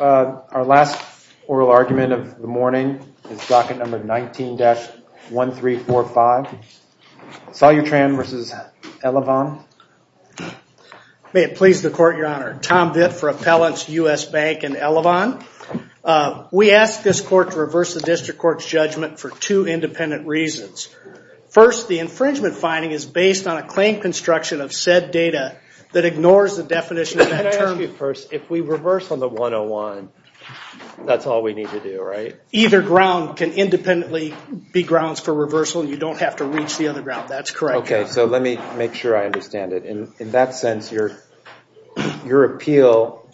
Our last oral argument of the morning is docket number 19-1345. Solutran v. Elavon. May it please the court, your honor. Tom Vitt for Appellants U.S. Bank and Elavon. We ask this court to reverse the district court's judgment for two independent reasons. First, the infringement finding is based on a claim construction of said data that ignores the definition of that term. Let me ask you first, if we reverse on the 101, that's all we need to do, right? Either ground can independently be grounds for reversal. You don't have to reach the other ground. That's correct. Okay, so let me make sure I understand it. In that sense, your appeal,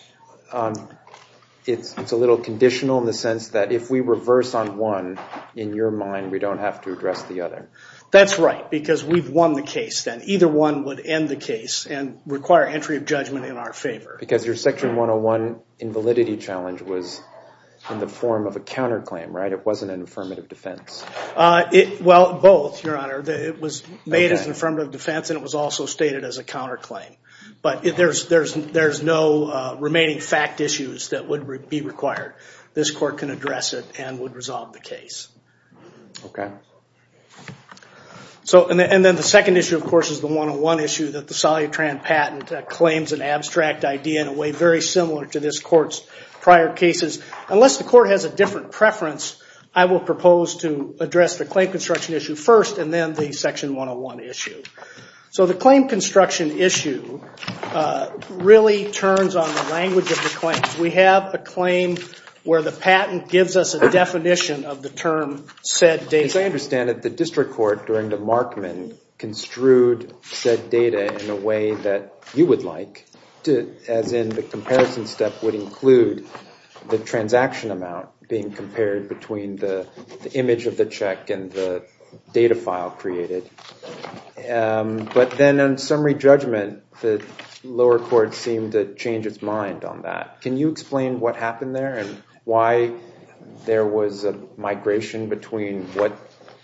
it's a little conditional in the sense that if we reverse on one, in your mind, we don't have to address the other. That's right, because we've won the case then. Either one would end the case and require entry of judgment in our favor. Because your section 101 invalidity challenge was in the form of a counterclaim, right? It wasn't an affirmative defense. Well, both, your honor. It was made as an affirmative defense and it was also stated as a counterclaim. But there's no remaining fact issues that would be required. This court can address it and would resolve the case. Okay. And then the second issue, of course, is the 101 issue that the Solitran patent claims an abstract idea in a way very similar to this court's prior cases. Unless the court has a different preference, I will propose to address the claim construction issue first and then the section 101 issue. So the claim construction issue really turns on the language of the claim. We have a claim where the patent gives us a definition of the term said date. As I understand it, the district court during the Markman construed said data in a way that you would like, as in the comparison step would include the transaction amount being compared between the image of the check and the data file created. But then on summary judgment, the lower court seemed to change its mind on that. Can you explain what happened there and why there was a migration between what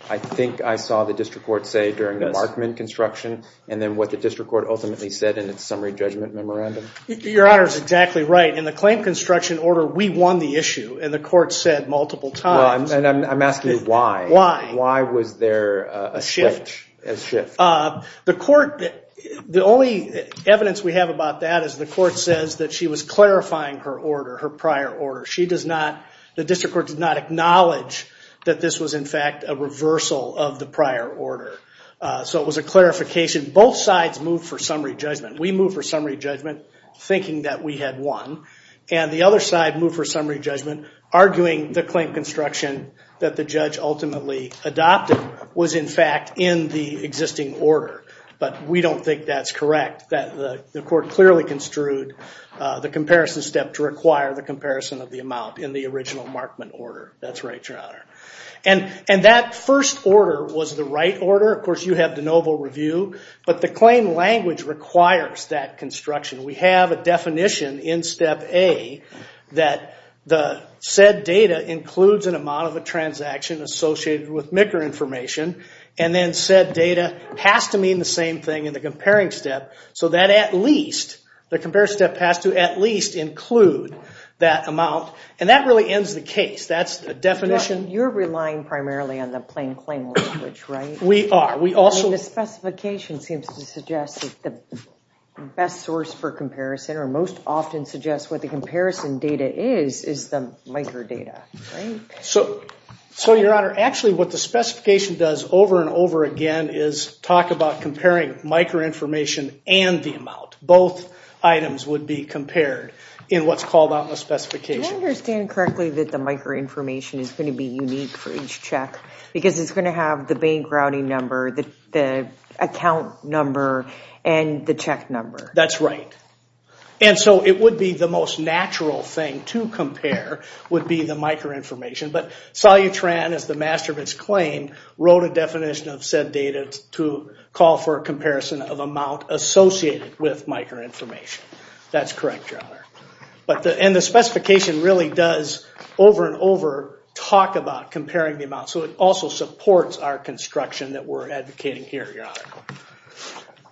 I think I saw the district court say during the Markman construction and then what the district court ultimately said in its summary judgment memorandum? Your Honor is exactly right. In the claim construction order, we won the issue and the court said multiple times. I'm asking why. Why? Why was there a shift? The court, the only evidence we have about that is the court says that she was clarifying her order, her prior order. She does not, the district court does not acknowledge that this was in fact a reversal of the prior order. So it was a clarification. Both sides moved for summary judgment. We moved for summary judgment thinking that we had won. And the other side moved for summary judgment arguing the claim construction that the judge ultimately adopted was in fact in the existing order. But we don't think that's correct. The court clearly construed the comparison step to require the comparison of the amount in the original Markman order. That's right, Your Honor. And that first order was the right order. Of course, you have de novo review. But the claim language requires that construction. We have a definition in step A that the said data includes an amount of a transaction associated with MICR information. And then said data has to mean the same thing in the comparing step. So that at least, the compare step has to at least include that amount. And that really ends the case. That's the definition. You're relying primarily on the plain claim language, right? We are. The specification seems to suggest that the best source for comparison, or most often suggests what the comparison data is, is the MICR data. So, Your Honor, actually what the specification does over and over again is talk about comparing MICR information and the amount. Both items would be compared in what's called out in the specification. Do I understand correctly that the MICR information is going to be unique for each check? Because it's going to have the bank routing number, the account number, and the check number. That's right. And so it would be the most natural thing to compare would be the MICR information. But Salyutran, as the master of its claim, wrote a definition of said data to call for a comparison of amount associated with MICR information. That's correct, Your Honor. And the specification really does, over and over, talk about comparing the amount. So it also supports our construction that we're advocating here, Your Honor.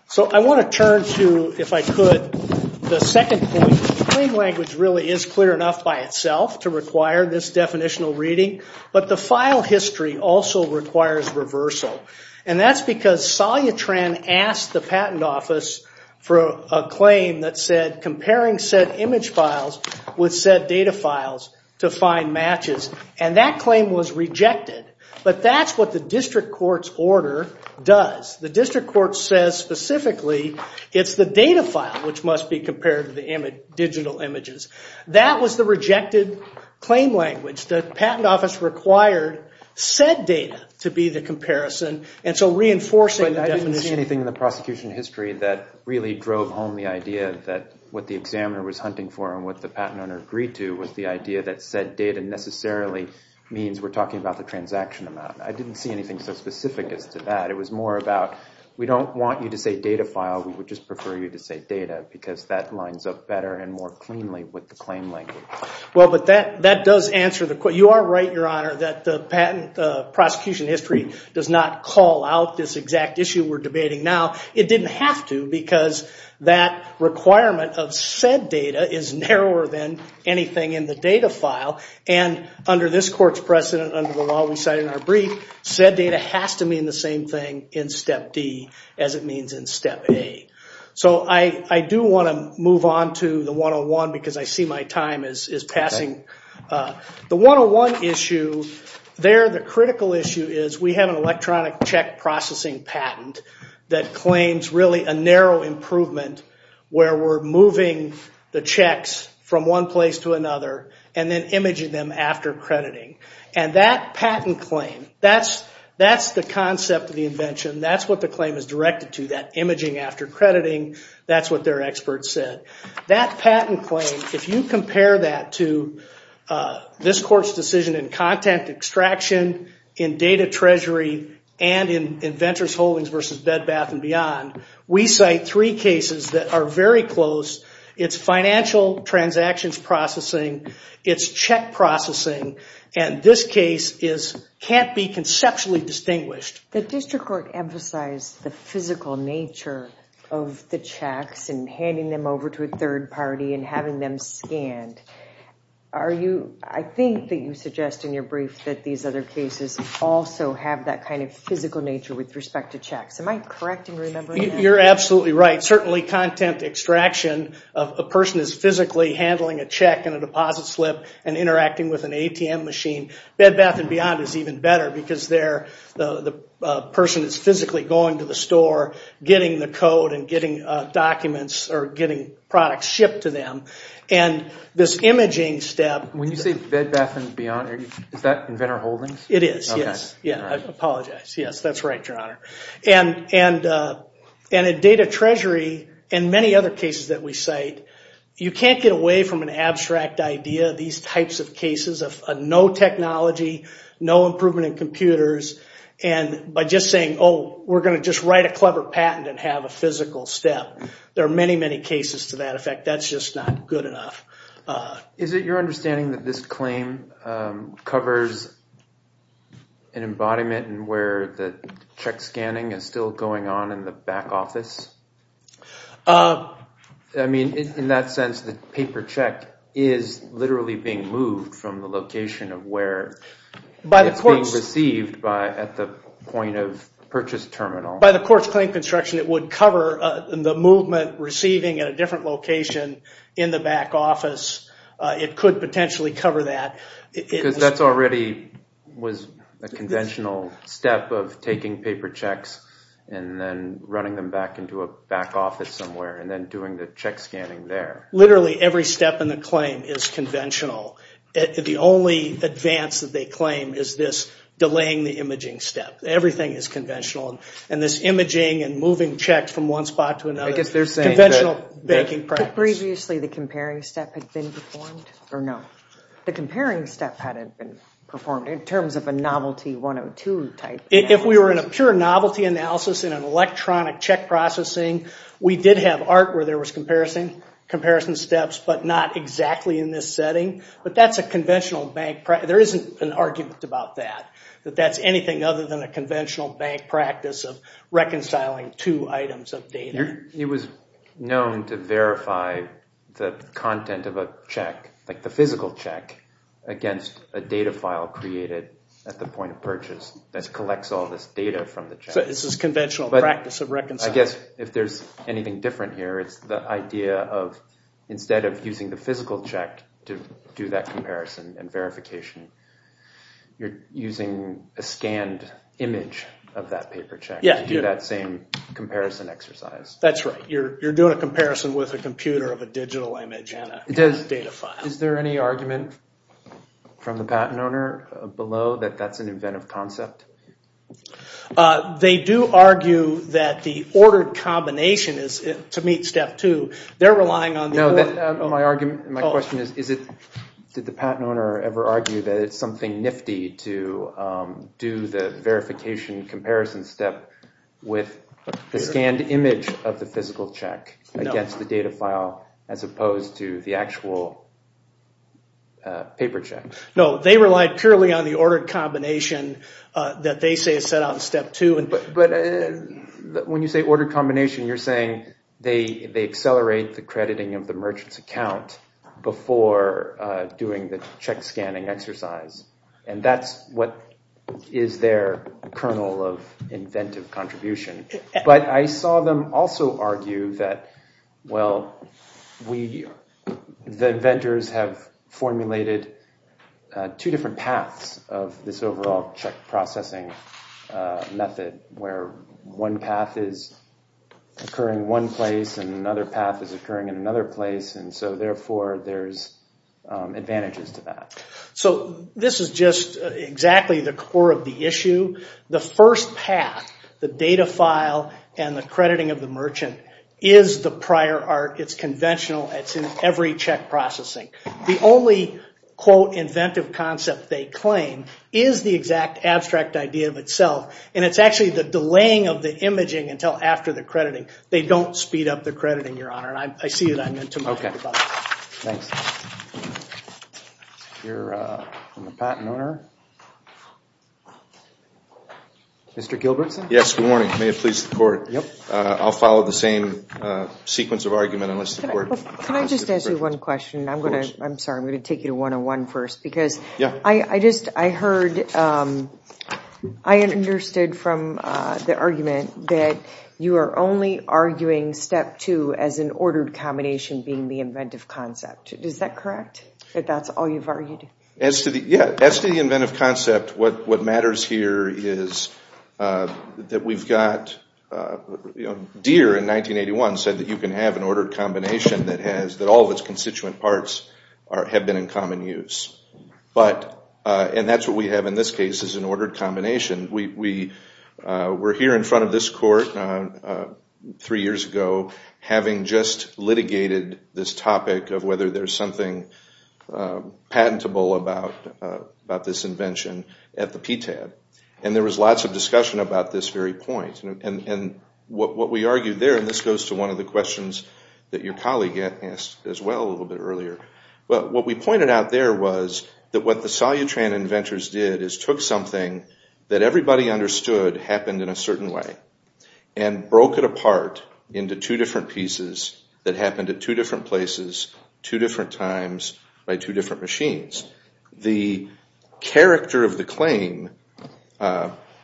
So I want to turn to, if I could, the second point. The plain language really is clear enough by itself to require this definitional reading. But the file history also requires reversal. And that's because Salyutran asked the patent office for a claim that said comparing said image files with said data files to find matches. And that claim was rejected. But that's what the district court's order does. The district court says specifically it's the data file which must be compared to the digital images. That was the rejected claim language. The patent office required said data to be the comparison. And so reinforcing the definition... But I didn't see anything in the prosecution history that really drove home the idea that what the examiner was hunting for and what the patent owner agreed to was the idea that said data necessarily means we're talking about the transaction amount. I didn't see anything so specific as to that. It was more about we don't want you to say data file. We would just prefer you to say data because that lines up better and more cleanly with the claim language. Well, but that does answer the question. You are right, Your Honor, that the patent prosecution history does not call out this exact issue we're debating now. It didn't have to because that requirement of said data is narrower than anything in the data file. And under this court's precedent, under the law we cite in our brief, said data has to mean the same thing in Step D as it means in Step A. So I do want to move on to the 101 because I see my time is passing. The 101 issue there, the critical issue is we have an electronic check processing patent that claims really a narrow improvement where we're moving the checks from one place to another and then imaging them after crediting. And that patent claim, that's the concept of the invention. That's what the claim is directed to, that imaging after crediting. That's what their experts said. That patent claim, if you compare that to this court's decision in content extraction, in data treasury, and in inventor's holdings versus bed, bath, and beyond, we cite three cases that are very close. It's financial transactions processing. It's check processing. And this case can't be conceptually distinguished. The district court emphasized the physical nature of the checks and handing them over to a third party and having them scanned. I think that you suggest in your brief that these other cases also have that kind of physical nature with respect to checks. Am I correct in remembering that? You're absolutely right. Certainly content extraction, a person is physically handling a check in a deposit slip and interacting with an ATM machine. Bed, bath, and beyond is even better because the person is physically going to the store, getting the code, and getting documents or getting products shipped to them. And this imaging step... When you say bed, bath, and beyond, is that inventor holdings? It is, yes. I apologize. Yes, that's right, Your Honor. And in data treasury and many other cases that we cite, you can't get away from an abstract idea. These types of cases of no technology, no improvement in computers, and by just saying, oh, we're going to just write a clever patent and have a physical step. There are many, many cases to that effect. That's just not good enough. Is it your understanding that this claim covers an embodiment where the check scanning is still going on in the back office? I mean, in that sense, the paper check is literally being moved from the location of where it's being received at the point of purchase terminal. By the court's claim construction, it would cover the movement receiving at a different location in the back office. It could potentially cover that. Because that already was a conventional step of taking paper checks and then running them back into a back office somewhere and then doing the check scanning there. Literally every step in the claim is conventional. The only advance that they claim is this delaying the imaging step. Everything is conventional. And this imaging and moving checks from one spot to another is conventional banking practice. Previously, the comparing step had been performed, or no? The comparing step hadn't been performed in terms of a novelty 102 type. If we were in a pure novelty analysis in an electronic check processing, we did have art where there was comparison steps, but not exactly in this setting. But that's a conventional bank practice. There isn't an argument about that, that that's anything other than a conventional bank practice of reconciling two items of data. It was known to verify the content of a check, like the physical check, against a data file created at the point of purchase that collects all this data from the check. So this is conventional practice of reconciling. I guess if there's anything different here, it's the idea of instead of using the physical check to do that comparison and verification, you're using a scanned image of that paper check to do that same comparison exercise. That's right. You're doing a comparison with a computer of a digital image and a data file. Is there any argument from the patent owner below that that's an inventive concept? They do argue that the ordered combination is, to meet step two, they're relying on... My question is, did the patent owner ever argue that it's something nifty to do the verification comparison step with the scanned image of the physical check against the data file as opposed to the actual paper check? No, they relied purely on the ordered combination that they say is set out in step two. But when you say ordered combination, you're saying they accelerate the crediting of the merchant's account before doing the check scanning exercise. And that's what is their kernel of inventive contribution. But I saw them also argue that, well, the inventors have formulated two different paths of this overall check processing method where one path is occurring in one place and another path is occurring in another place. And so, therefore, there's advantages to that. So this is just exactly the core of the issue. The first path, the data file and the crediting of the merchant, is the prior art. It's conventional. It's in every check processing. The only, quote, inventive concept they claim is the exact abstract idea of itself. And it's actually the delaying of the imaging until after the crediting. They don't speed up the crediting, Your Honor. And I see that I meant to... Okay. Thanks. Here from the patent owner. Mr. Gilbertson? Yes. Good morning. May it please the Court. I'll follow the same sequence of argument unless the Court... Can I just ask you one question? Of course. I'm sorry. I'm going to take you to 101 first because... Yeah. I understood from the argument that you are only arguing step two as an ordered combination being the inventive concept. Is that correct? That that's all you've argued? Yeah. As to the inventive concept, what matters here is that we've got... Deere in 1981 said that you can have an ordered combination that all of its constituent parts have been in common use. But... And that's what we have in this case is an ordered combination. We're here in front of this Court three years ago having just litigated this topic of whether there's something patentable about this invention at the PTAB. And there was lots of discussion about this very point. And what we argued there, and this goes to one of the questions that your colleague asked as well a little bit earlier. What we pointed out there was that what the solutran inventors did is took something that everybody understood happened in a certain way and broke it apart into two different pieces that happened at two different places, two different times, by two different machines. The character of the claim...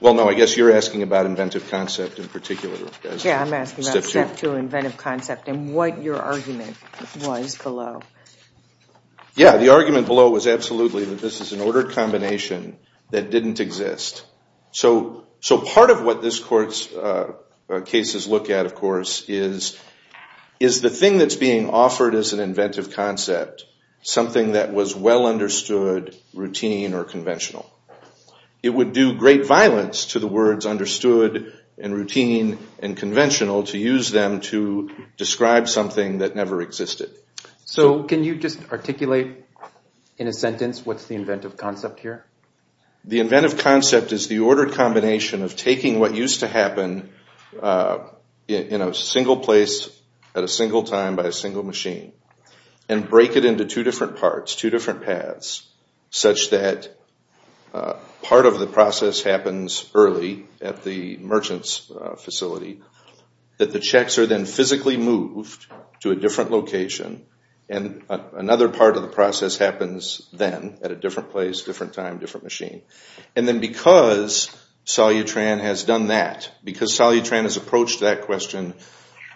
Well, no. I guess you're asking about inventive concept in particular. Yeah. I'm asking about step two, inventive concept, and what your argument was below. Yeah, the argument below was absolutely that this is an ordered combination that didn't exist. So part of what this Court's cases look at, of course, is the thing that's being offered as an inventive concept, something that was well understood, routine, or conventional. It would do great violence to the words understood and routine and conventional to use them to describe something that never existed. So can you just articulate in a sentence what's the inventive concept here? The inventive concept is the ordered combination of taking what used to happen in a single place at a single time by a single machine and break it into two different parts, two different paths, such that part of the process happens early at the merchant's facility, that the checks are then physically moved to a different location, and another part of the process happens then at a different place, different time, different machine. And then because Salyutran has done that, because Salyutran has approached that question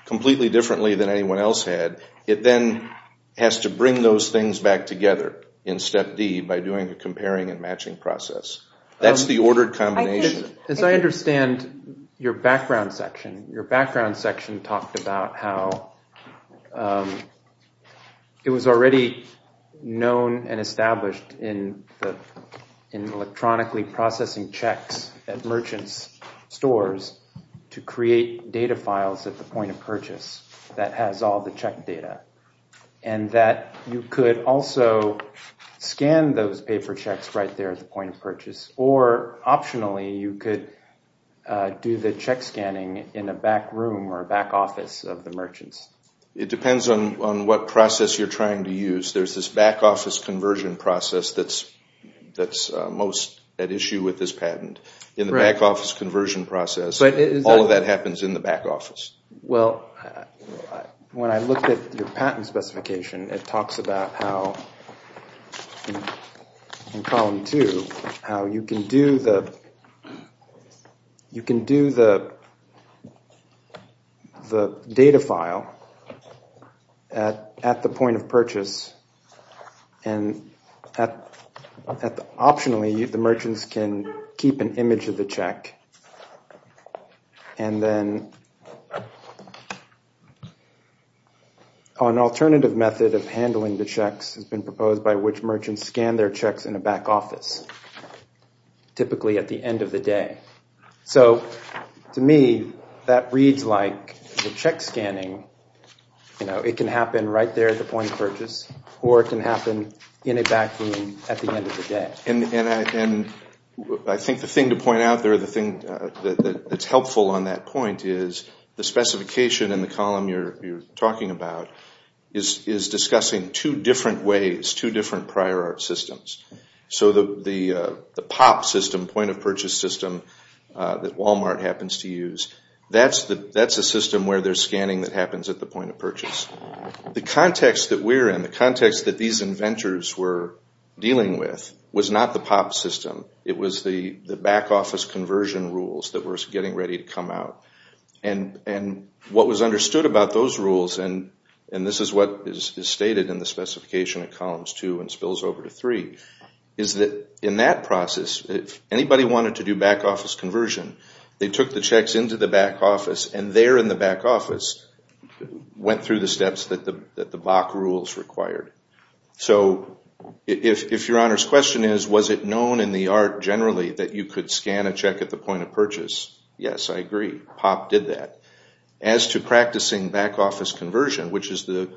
completely differently than anyone else had, it then has to bring those things back together in step D by doing a comparing and matching process. That's the ordered combination. As I understand your background section, your background section talked about how it was already known and established in electronically processing checks at merchant's stores to create data files at the point of purchase that has all the check data, and that you could also scan those paper checks right there at the point of purchase, or optionally you could do the check scanning in a back room or a back office of the merchants. It depends on what process you're trying to use. There's this back office conversion process that's most at issue with this patent. In the back office conversion process, all of that happens in the back office. Well, when I looked at your patent specification, it talks about how in column two, how you can do the data file at the point of purchase, and optionally the merchants can keep an image of the check, and then an alternative method of handling the checks has been proposed by which merchants scan their checks in a back office, typically at the end of the day. So to me, that reads like the check scanning, it can happen right there at the point of purchase, or it can happen in a back room at the end of the day. I think the thing to point out there that's helpful on that point is the specification in the column you're talking about is discussing two different ways, two different prior art systems. So the POP system, point of purchase system, that Walmart happens to use, that's a system where there's scanning that happens at the point of purchase. The context that we're in, the context that these inventors were dealing with, was not the POP system. It was the back office conversion rules that were getting ready to come out. And what was understood about those rules, and this is what is stated in the specification in columns two and spills over to three, is that in that process, if anybody wanted to do back office conversion, they took the checks into the back office, and there in the back office went through the steps that the BOC rules required. So if your Honor's question is, was it known in the art generally that you could scan a check at the point of purchase, yes, I agree, POP did that. As to practicing back office conversion, which is the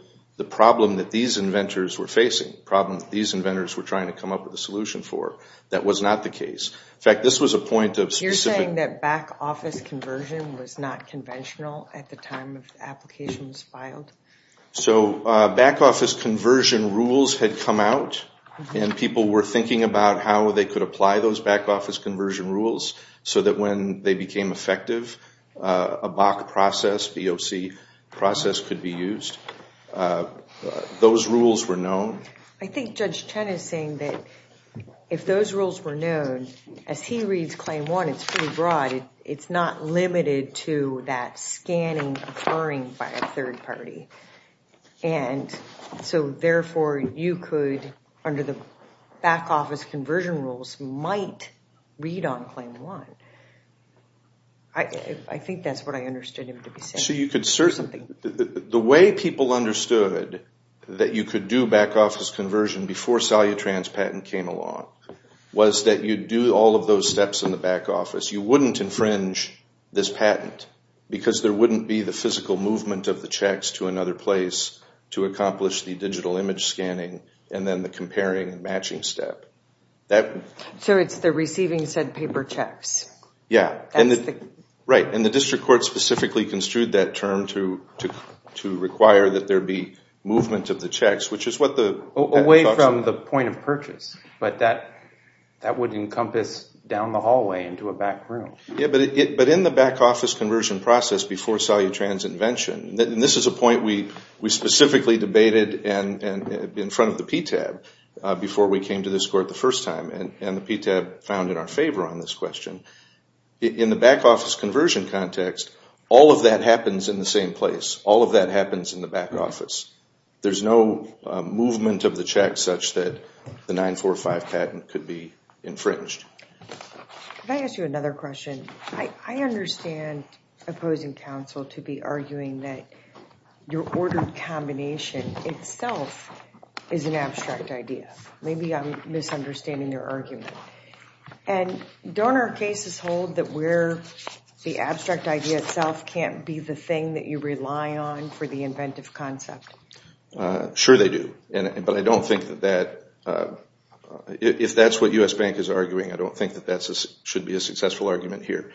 problem that these inventors were facing, the problem that these inventors were trying to come up with a solution for, that was not the case. You're saying that back office conversion was not conventional at the time the application was filed? So back office conversion rules had come out, and people were thinking about how they could apply those back office conversion rules, so that when they became effective, a BOC process could be used. Those rules were known. I think Judge Chen is saying that if those rules were known, as he reads Claim 1, it's pretty broad. It's not limited to that scanning occurring by a third party, and so therefore you could, under the back office conversion rules, might read on Claim 1. I think that's what I understood him to be saying. The way people understood that you could do back office conversion before Salyutran's patent came along was that you'd do all of those steps in the back office. You wouldn't infringe this patent, because there wouldn't be the physical movement of the checks to another place to accomplish the digital image scanning and then the comparing and matching step. So it's the receiving said paper checks. Right, and the district court specifically construed that term to require that there be movement of the checks, which is what the patent talks about. Away from the point of purchase, but that would encompass down the hallway into a back room. Yeah, but in the back office conversion process before Salyutran's invention, and this is a point we specifically debated in front of the PTAB before we came to this court the first time, and the PTAB found in our favor on this question, in the back office conversion context, all of that happens in the same place. All of that happens in the back office. There's no movement of the checks such that the 945 patent could be infringed. Can I ask you another question? I understand opposing counsel to be arguing that your ordered combination itself is an abstract idea. Maybe I'm misunderstanding your argument. And don't our cases hold that the abstract idea itself can't be the thing that you rely on for the inventive concept? Sure they do, but I don't think that that, if that's what U.S. Bank is arguing, I don't think that that should be a successful argument here.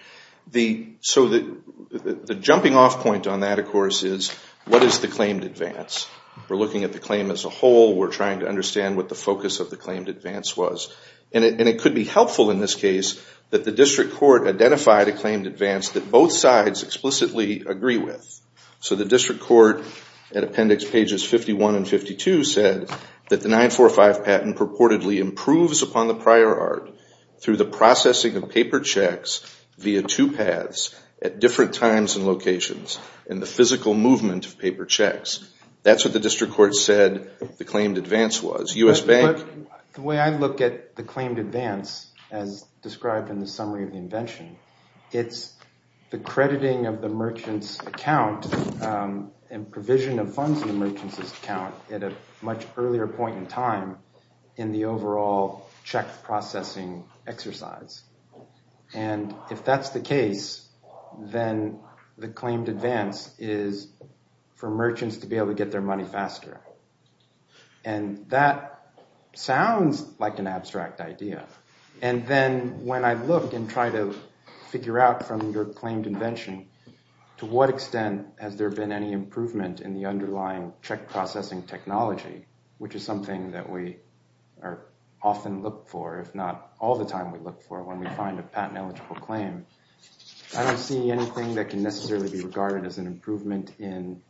So the jumping off point on that, of course, is what is the claimed advance? We're looking at the claim as a whole. We're trying to understand what the focus of the claimed advance was. And it could be helpful in this case that the district court identified a claimed advance that both sides explicitly agree with. So the district court at appendix pages 51 and 52 said that the 945 patent purportedly improves upon the prior art through the processing of paper checks via two paths at different times and locations and the physical movement of paper checks. That's what the district court said the claimed advance was. U.S. Bank? The way I look at the claimed advance as described in the summary of the invention, it's the crediting of the merchant's account and provision of funds in the merchant's account at a much earlier point in time in the overall check processing exercise. And if that's the case, then the claimed advance is for merchants to be able to get their money faster. And that sounds like an abstract idea. And then when I look and try to figure out from your claimed invention, to what extent has there been any improvement in the underlying check processing technology, which is something that we often look for, if not all the time we look for, when we find a patent eligible claim. I don't see anything that can necessarily be regarded as an improvement in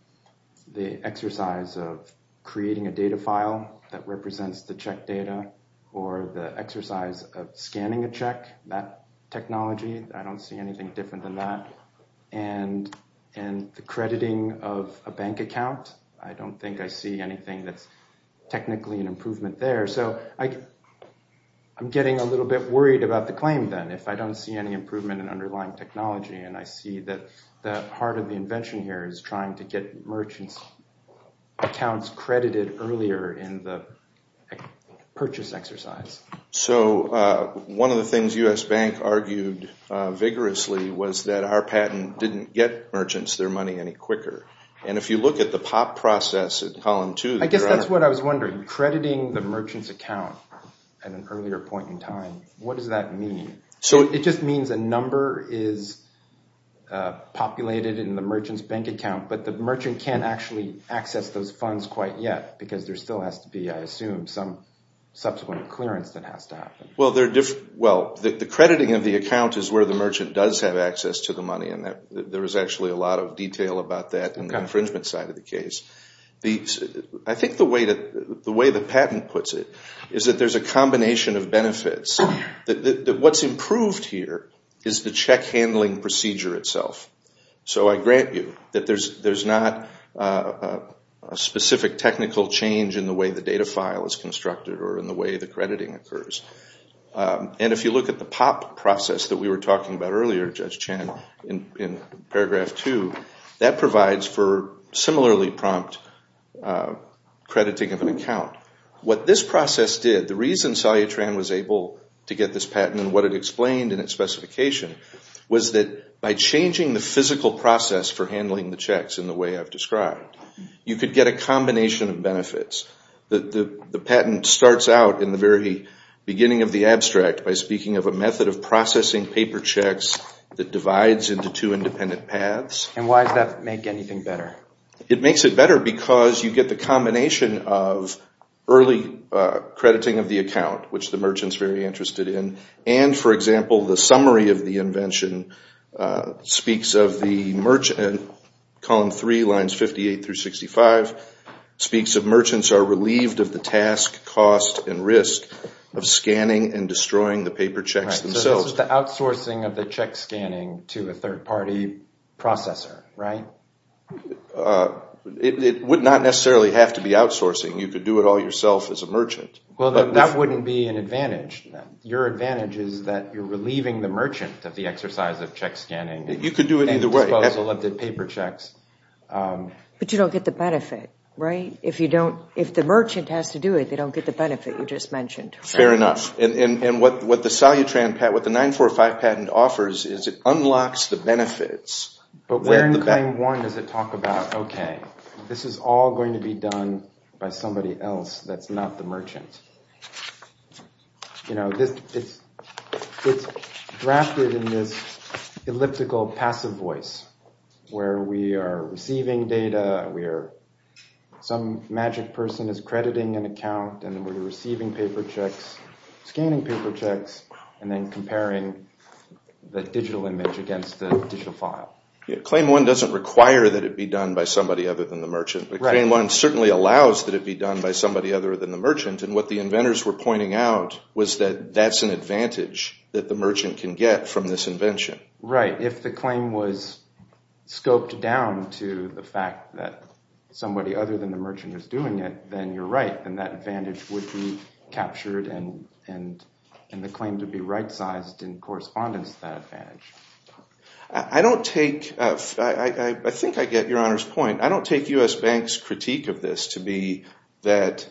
the exercise of creating a data file that represents the check data or the exercise of scanning a check, that technology. I don't see anything different than that. And the crediting of a bank account, I don't think I see anything that's technically an improvement there. So I'm getting a little bit worried about the claim then, if I don't see any improvement in underlying technology and I see that the heart of the invention here is trying to get merchants' accounts credited earlier in the purchase exercise. So one of the things U.S. Bank argued vigorously was that our patent didn't get merchants their money any quicker. And if you look at the POP process at column two... I guess that's what I was wondering. Crediting the merchant's account at an earlier point in time, what does that mean? It just means a number is populated in the merchant's bank account, but the merchant can't actually access those funds quite yet, because there still has to be, I assume, some subsequent clearance that has to happen. Well, the crediting of the account is where the merchant does have access to the money, and there is actually a lot of detail about that in the infringement side of the case. I think the way the patent puts it is that there's a combination of benefits. What's improved here is the check handling procedure itself. So I grant you that there's not a specific technical change in the way the data file is constructed or in the way the crediting occurs. And if you look at the POP process that we were talking about earlier, Judge Chen, in paragraph two, that provides for similarly prompt crediting of an account. What this process did, the reason Cellutran was able to get this patent and what it explained in its specification, was that by changing the physical process for handling the checks in the way I've described, you could get a combination of benefits. The patent starts out in the very beginning of the abstract by speaking of a method of processing paper checks that divides into two independent paths. And why does that make anything better? It makes it better because you get the combination of early crediting of the account, which the merchant's very interested in, and, for example, the summary of the invention speaks of the merchant in column three, lines 58 through 65, speaks of merchants are relieved of the task, cost, and risk of scanning and destroying the paper checks themselves. So this is the outsourcing of the check scanning to a third-party processor, right? It would not necessarily have to be outsourcing. You could do it all yourself as a merchant. Well, that wouldn't be an advantage. Your advantage is that you're relieving the merchant of the exercise of check scanning. You could do it either way. And the disposal of the paper checks. But you don't get the benefit, right? If the merchant has to do it, they don't get the benefit you just mentioned. Fair enough. And what the 945 patent offers is it unlocks the benefits. But where in claim one does it talk about, okay, this is all going to be done by somebody else that's not the merchant. You know, it's drafted in this elliptical passive voice where we are receiving data, some magic person is crediting an account, and then we're receiving paper checks, scanning paper checks, and then comparing the digital image against the digital file. Claim one doesn't require that it be done by somebody other than the merchant. Right. But claim one certainly allows that it be done by somebody other than the merchant. And what the inventors were pointing out was that that's an advantage that the merchant can get from this invention. Right. If the claim was scoped down to the fact that somebody other than the merchant is doing it, then you're right, and that advantage would be captured and the claim to be right-sized in correspondence to that advantage. I think I get Your Honor's point. I don't take U.S. Bank's critique of this to be that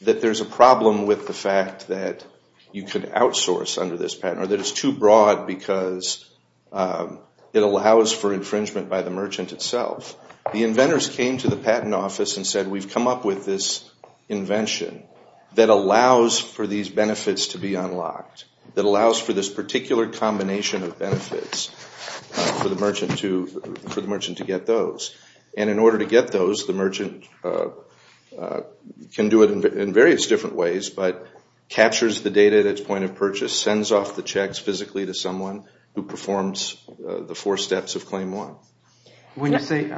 there's a problem with the fact that you could outsource under this patent or that it's too broad because it allows for infringement by the merchant itself. The inventors came to the patent office and said, we've come up with this invention that allows for these benefits to be unlocked, that allows for this particular combination of benefits for the merchant to get those. And in order to get those, the merchant can do it in various different ways, but captures the data at its point of purchase, sends off the checks physically to someone who performs the four steps of claim one. When you say it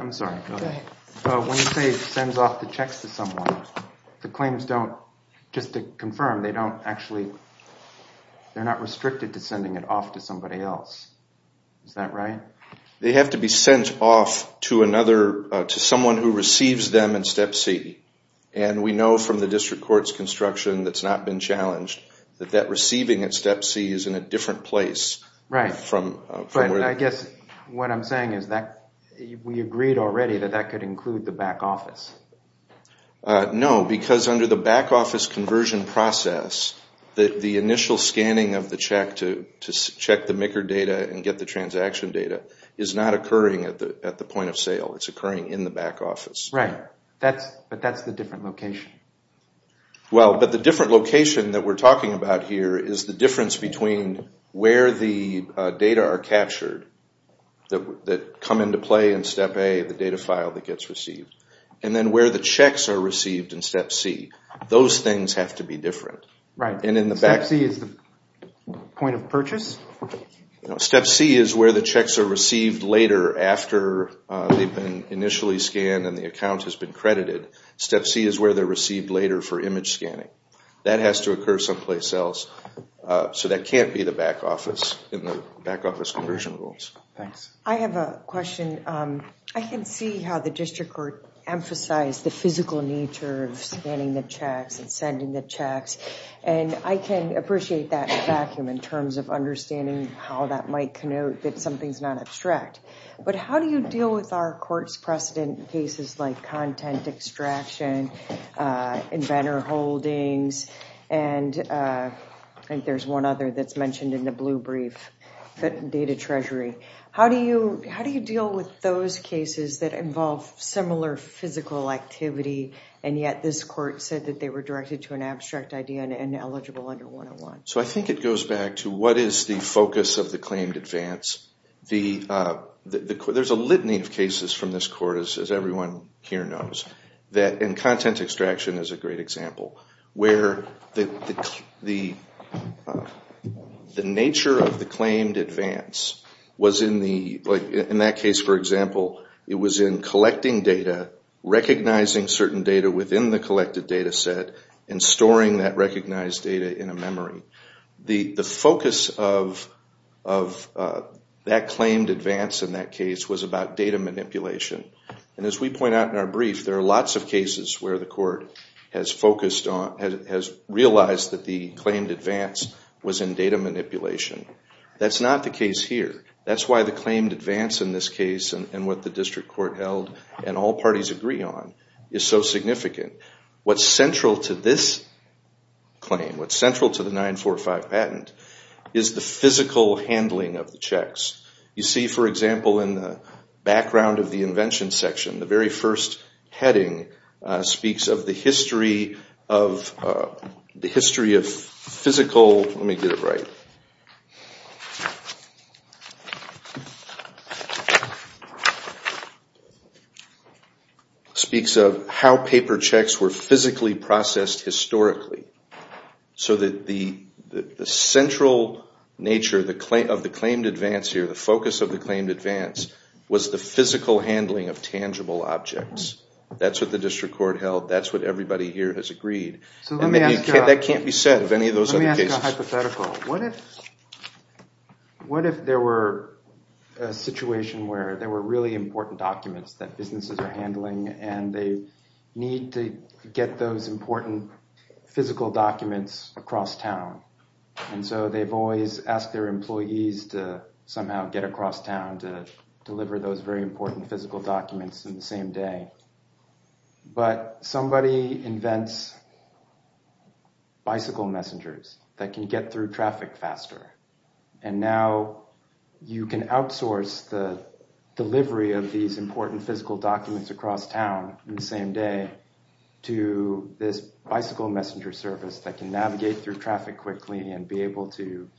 sends off the checks to someone, the claims don't, just to confirm, they don't actually, they're not restricted to sending it off to somebody else. Is that right? They have to be sent off to someone who receives them in step C. And we know from the district court's construction that's not been challenged that that receiving at step C is in a different place. Right. But I guess what I'm saying is that we agreed already that that could include the back office. No, because under the back office conversion process, the initial scanning of the check to check the MICR data and get the transaction data is not occurring at the point of sale. It's occurring in the back office. Right. But that's the different location. Well, but the different location that we're talking about here is the difference between where the data are captured that come into play in step A, the data file that gets received, and then where the checks are received in step C. Those things have to be different. Right. Step C is the point of purchase? Step C is where the checks are received later after they've been initially scanned and the account has been credited. Step C is where they're received later for image scanning. That has to occur someplace else. So that can't be the back office in the back office conversion rules. Thanks. I have a question. I can see how the district court emphasized the physical nature of scanning the checks and sending the checks, and I can appreciate that vacuum in terms of understanding how that might connote that something's not abstract. But how do you deal with our court's precedent in cases like content extraction, inventor holdings, and there's one other that's mentioned in the blue brief, data treasury. How do you deal with those cases that involve similar physical activity and yet this court said that they were directed to an abstract idea and ineligible under 101? I think it goes back to what is the focus of the claimed advance. There's a litany of cases from this court, as everyone here knows, and content extraction is a great example, where the nature of the claimed advance was in that case, for example, it was in collecting data, recognizing certain data within the collected data set, and storing that recognized data in a memory. The focus of that claimed advance in that case was about data manipulation. And as we point out in our brief, there are lots of cases where the court has realized that the claimed advance was in data manipulation. That's not the case here. That's why the claimed advance in this case and what the district court held and all parties agree on is so significant. What's central to this claim, what's central to the 945 patent, is the physical handling of the checks. You see, for example, in the background of the invention section, the very first heading speaks of the history of physical, let me get it right, speaks of how paper checks were physically processed historically. So that the central nature of the claimed advance here, was the physical handling of tangible objects. That's what the district court held. That's what everybody here has agreed. That can't be said of any of those other cases. Let me ask you a hypothetical. What if there were a situation where there were really important documents that businesses are handling and they need to get those important physical documents across town, and so they've always asked their employees to somehow get across town to deliver those very important physical documents in the same day. But somebody invents bicycle messengers that can get through traffic faster. And now you can outsource the delivery of these important physical documents across town in the same day to this bicycle messenger service that can navigate through traffic quickly and be able to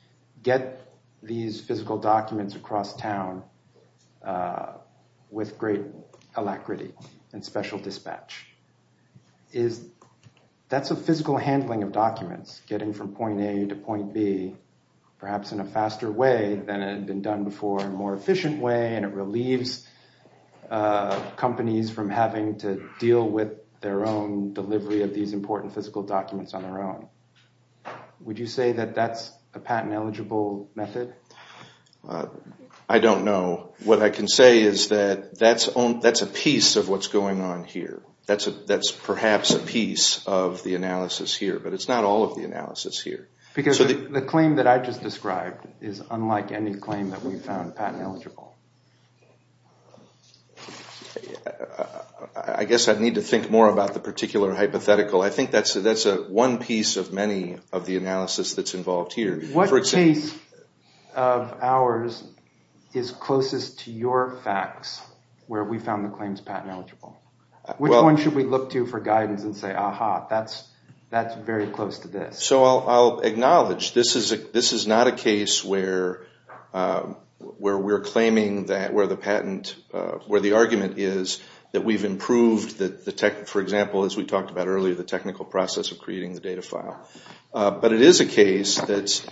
get these physical documents across town with great alacrity and special dispatch. That's a physical handling of documents, getting from point A to point B, perhaps in a faster way than had been done before, a more efficient way, and it relieves companies from having to deal with their own delivery of these important physical documents on their own. Would you say that that's a patent-eligible method? I don't know. What I can say is that that's a piece of what's going on here. That's perhaps a piece of the analysis here, but it's not all of the analysis here. Because the claim that I just described is unlike any claim that we've found patent-eligible. I guess I'd need to think more about the particular hypothetical. I think that's one piece of many of the analysis that's involved here. What case of ours is closest to your facts where we found the claims patent-eligible? Which one should we look to for guidance and say, ah-ha, that's very close to this? So I'll acknowledge this is not a case where we're claiming where the argument is that we've improved, for example, as we talked about earlier, the technical process of creating the data file. But it is a case that's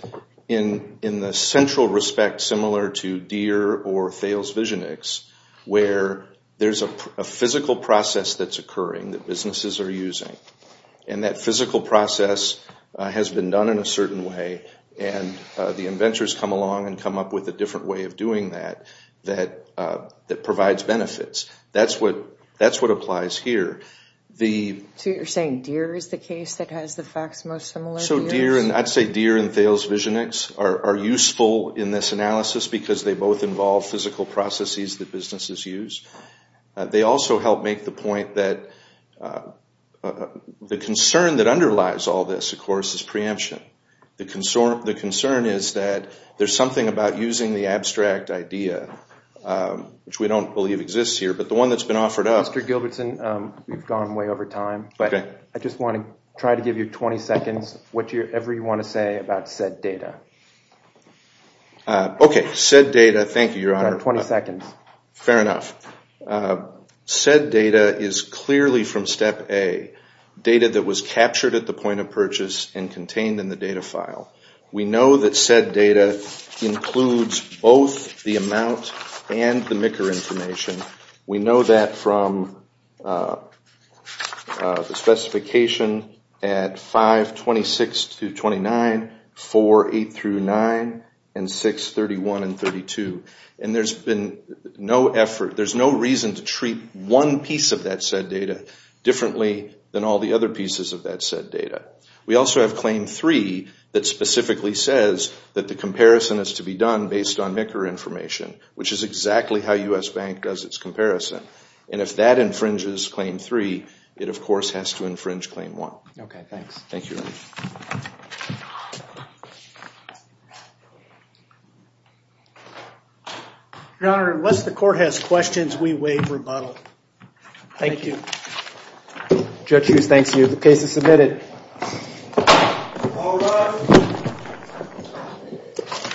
in the central respect similar to Deere or Thales VisionX, where there's a physical process that's occurring that businesses are using. That physical process has been done in a certain way, and the inventors come along and come up with a different way of doing that that provides benefits. That's what applies here. So you're saying Deere is the case that has the facts most similar to yours? I'd say Deere and Thales VisionX are useful in this analysis because they both involve physical processes that businesses use. They also help make the point that the concern that underlies all this, of course, is preemption. The concern is that there's something about using the abstract idea, which we don't believe exists here, but the one that's been offered up— Mr. Gilbertson, we've gone way over time. Okay. I just want to try to give you 20 seconds, whatever you want to say about said data. Okay, said data. Thank you, Your Honor. You've got 20 seconds. Fair enough. Said data is clearly from Step A, data that was captured at the point of purchase and contained in the data file. We know that said data includes both the amount and the MICR information. We know that from the specification at 5.26-29, 4.8-9, and 6.31-32. There's no reason to treat one piece of that said data differently than all the other pieces of that said data. We also have Claim 3 that specifically says that the comparison has to be done based on MICR information, which is exactly how U.S. Bank does its comparison. If that infringes Claim 3, it, of course, has to infringe Claim 1. Thank you, Your Honor. Your Honor, unless the court has questions, we waive rebuttal. Thank you. Judge Hughes, thank you. The case is submitted.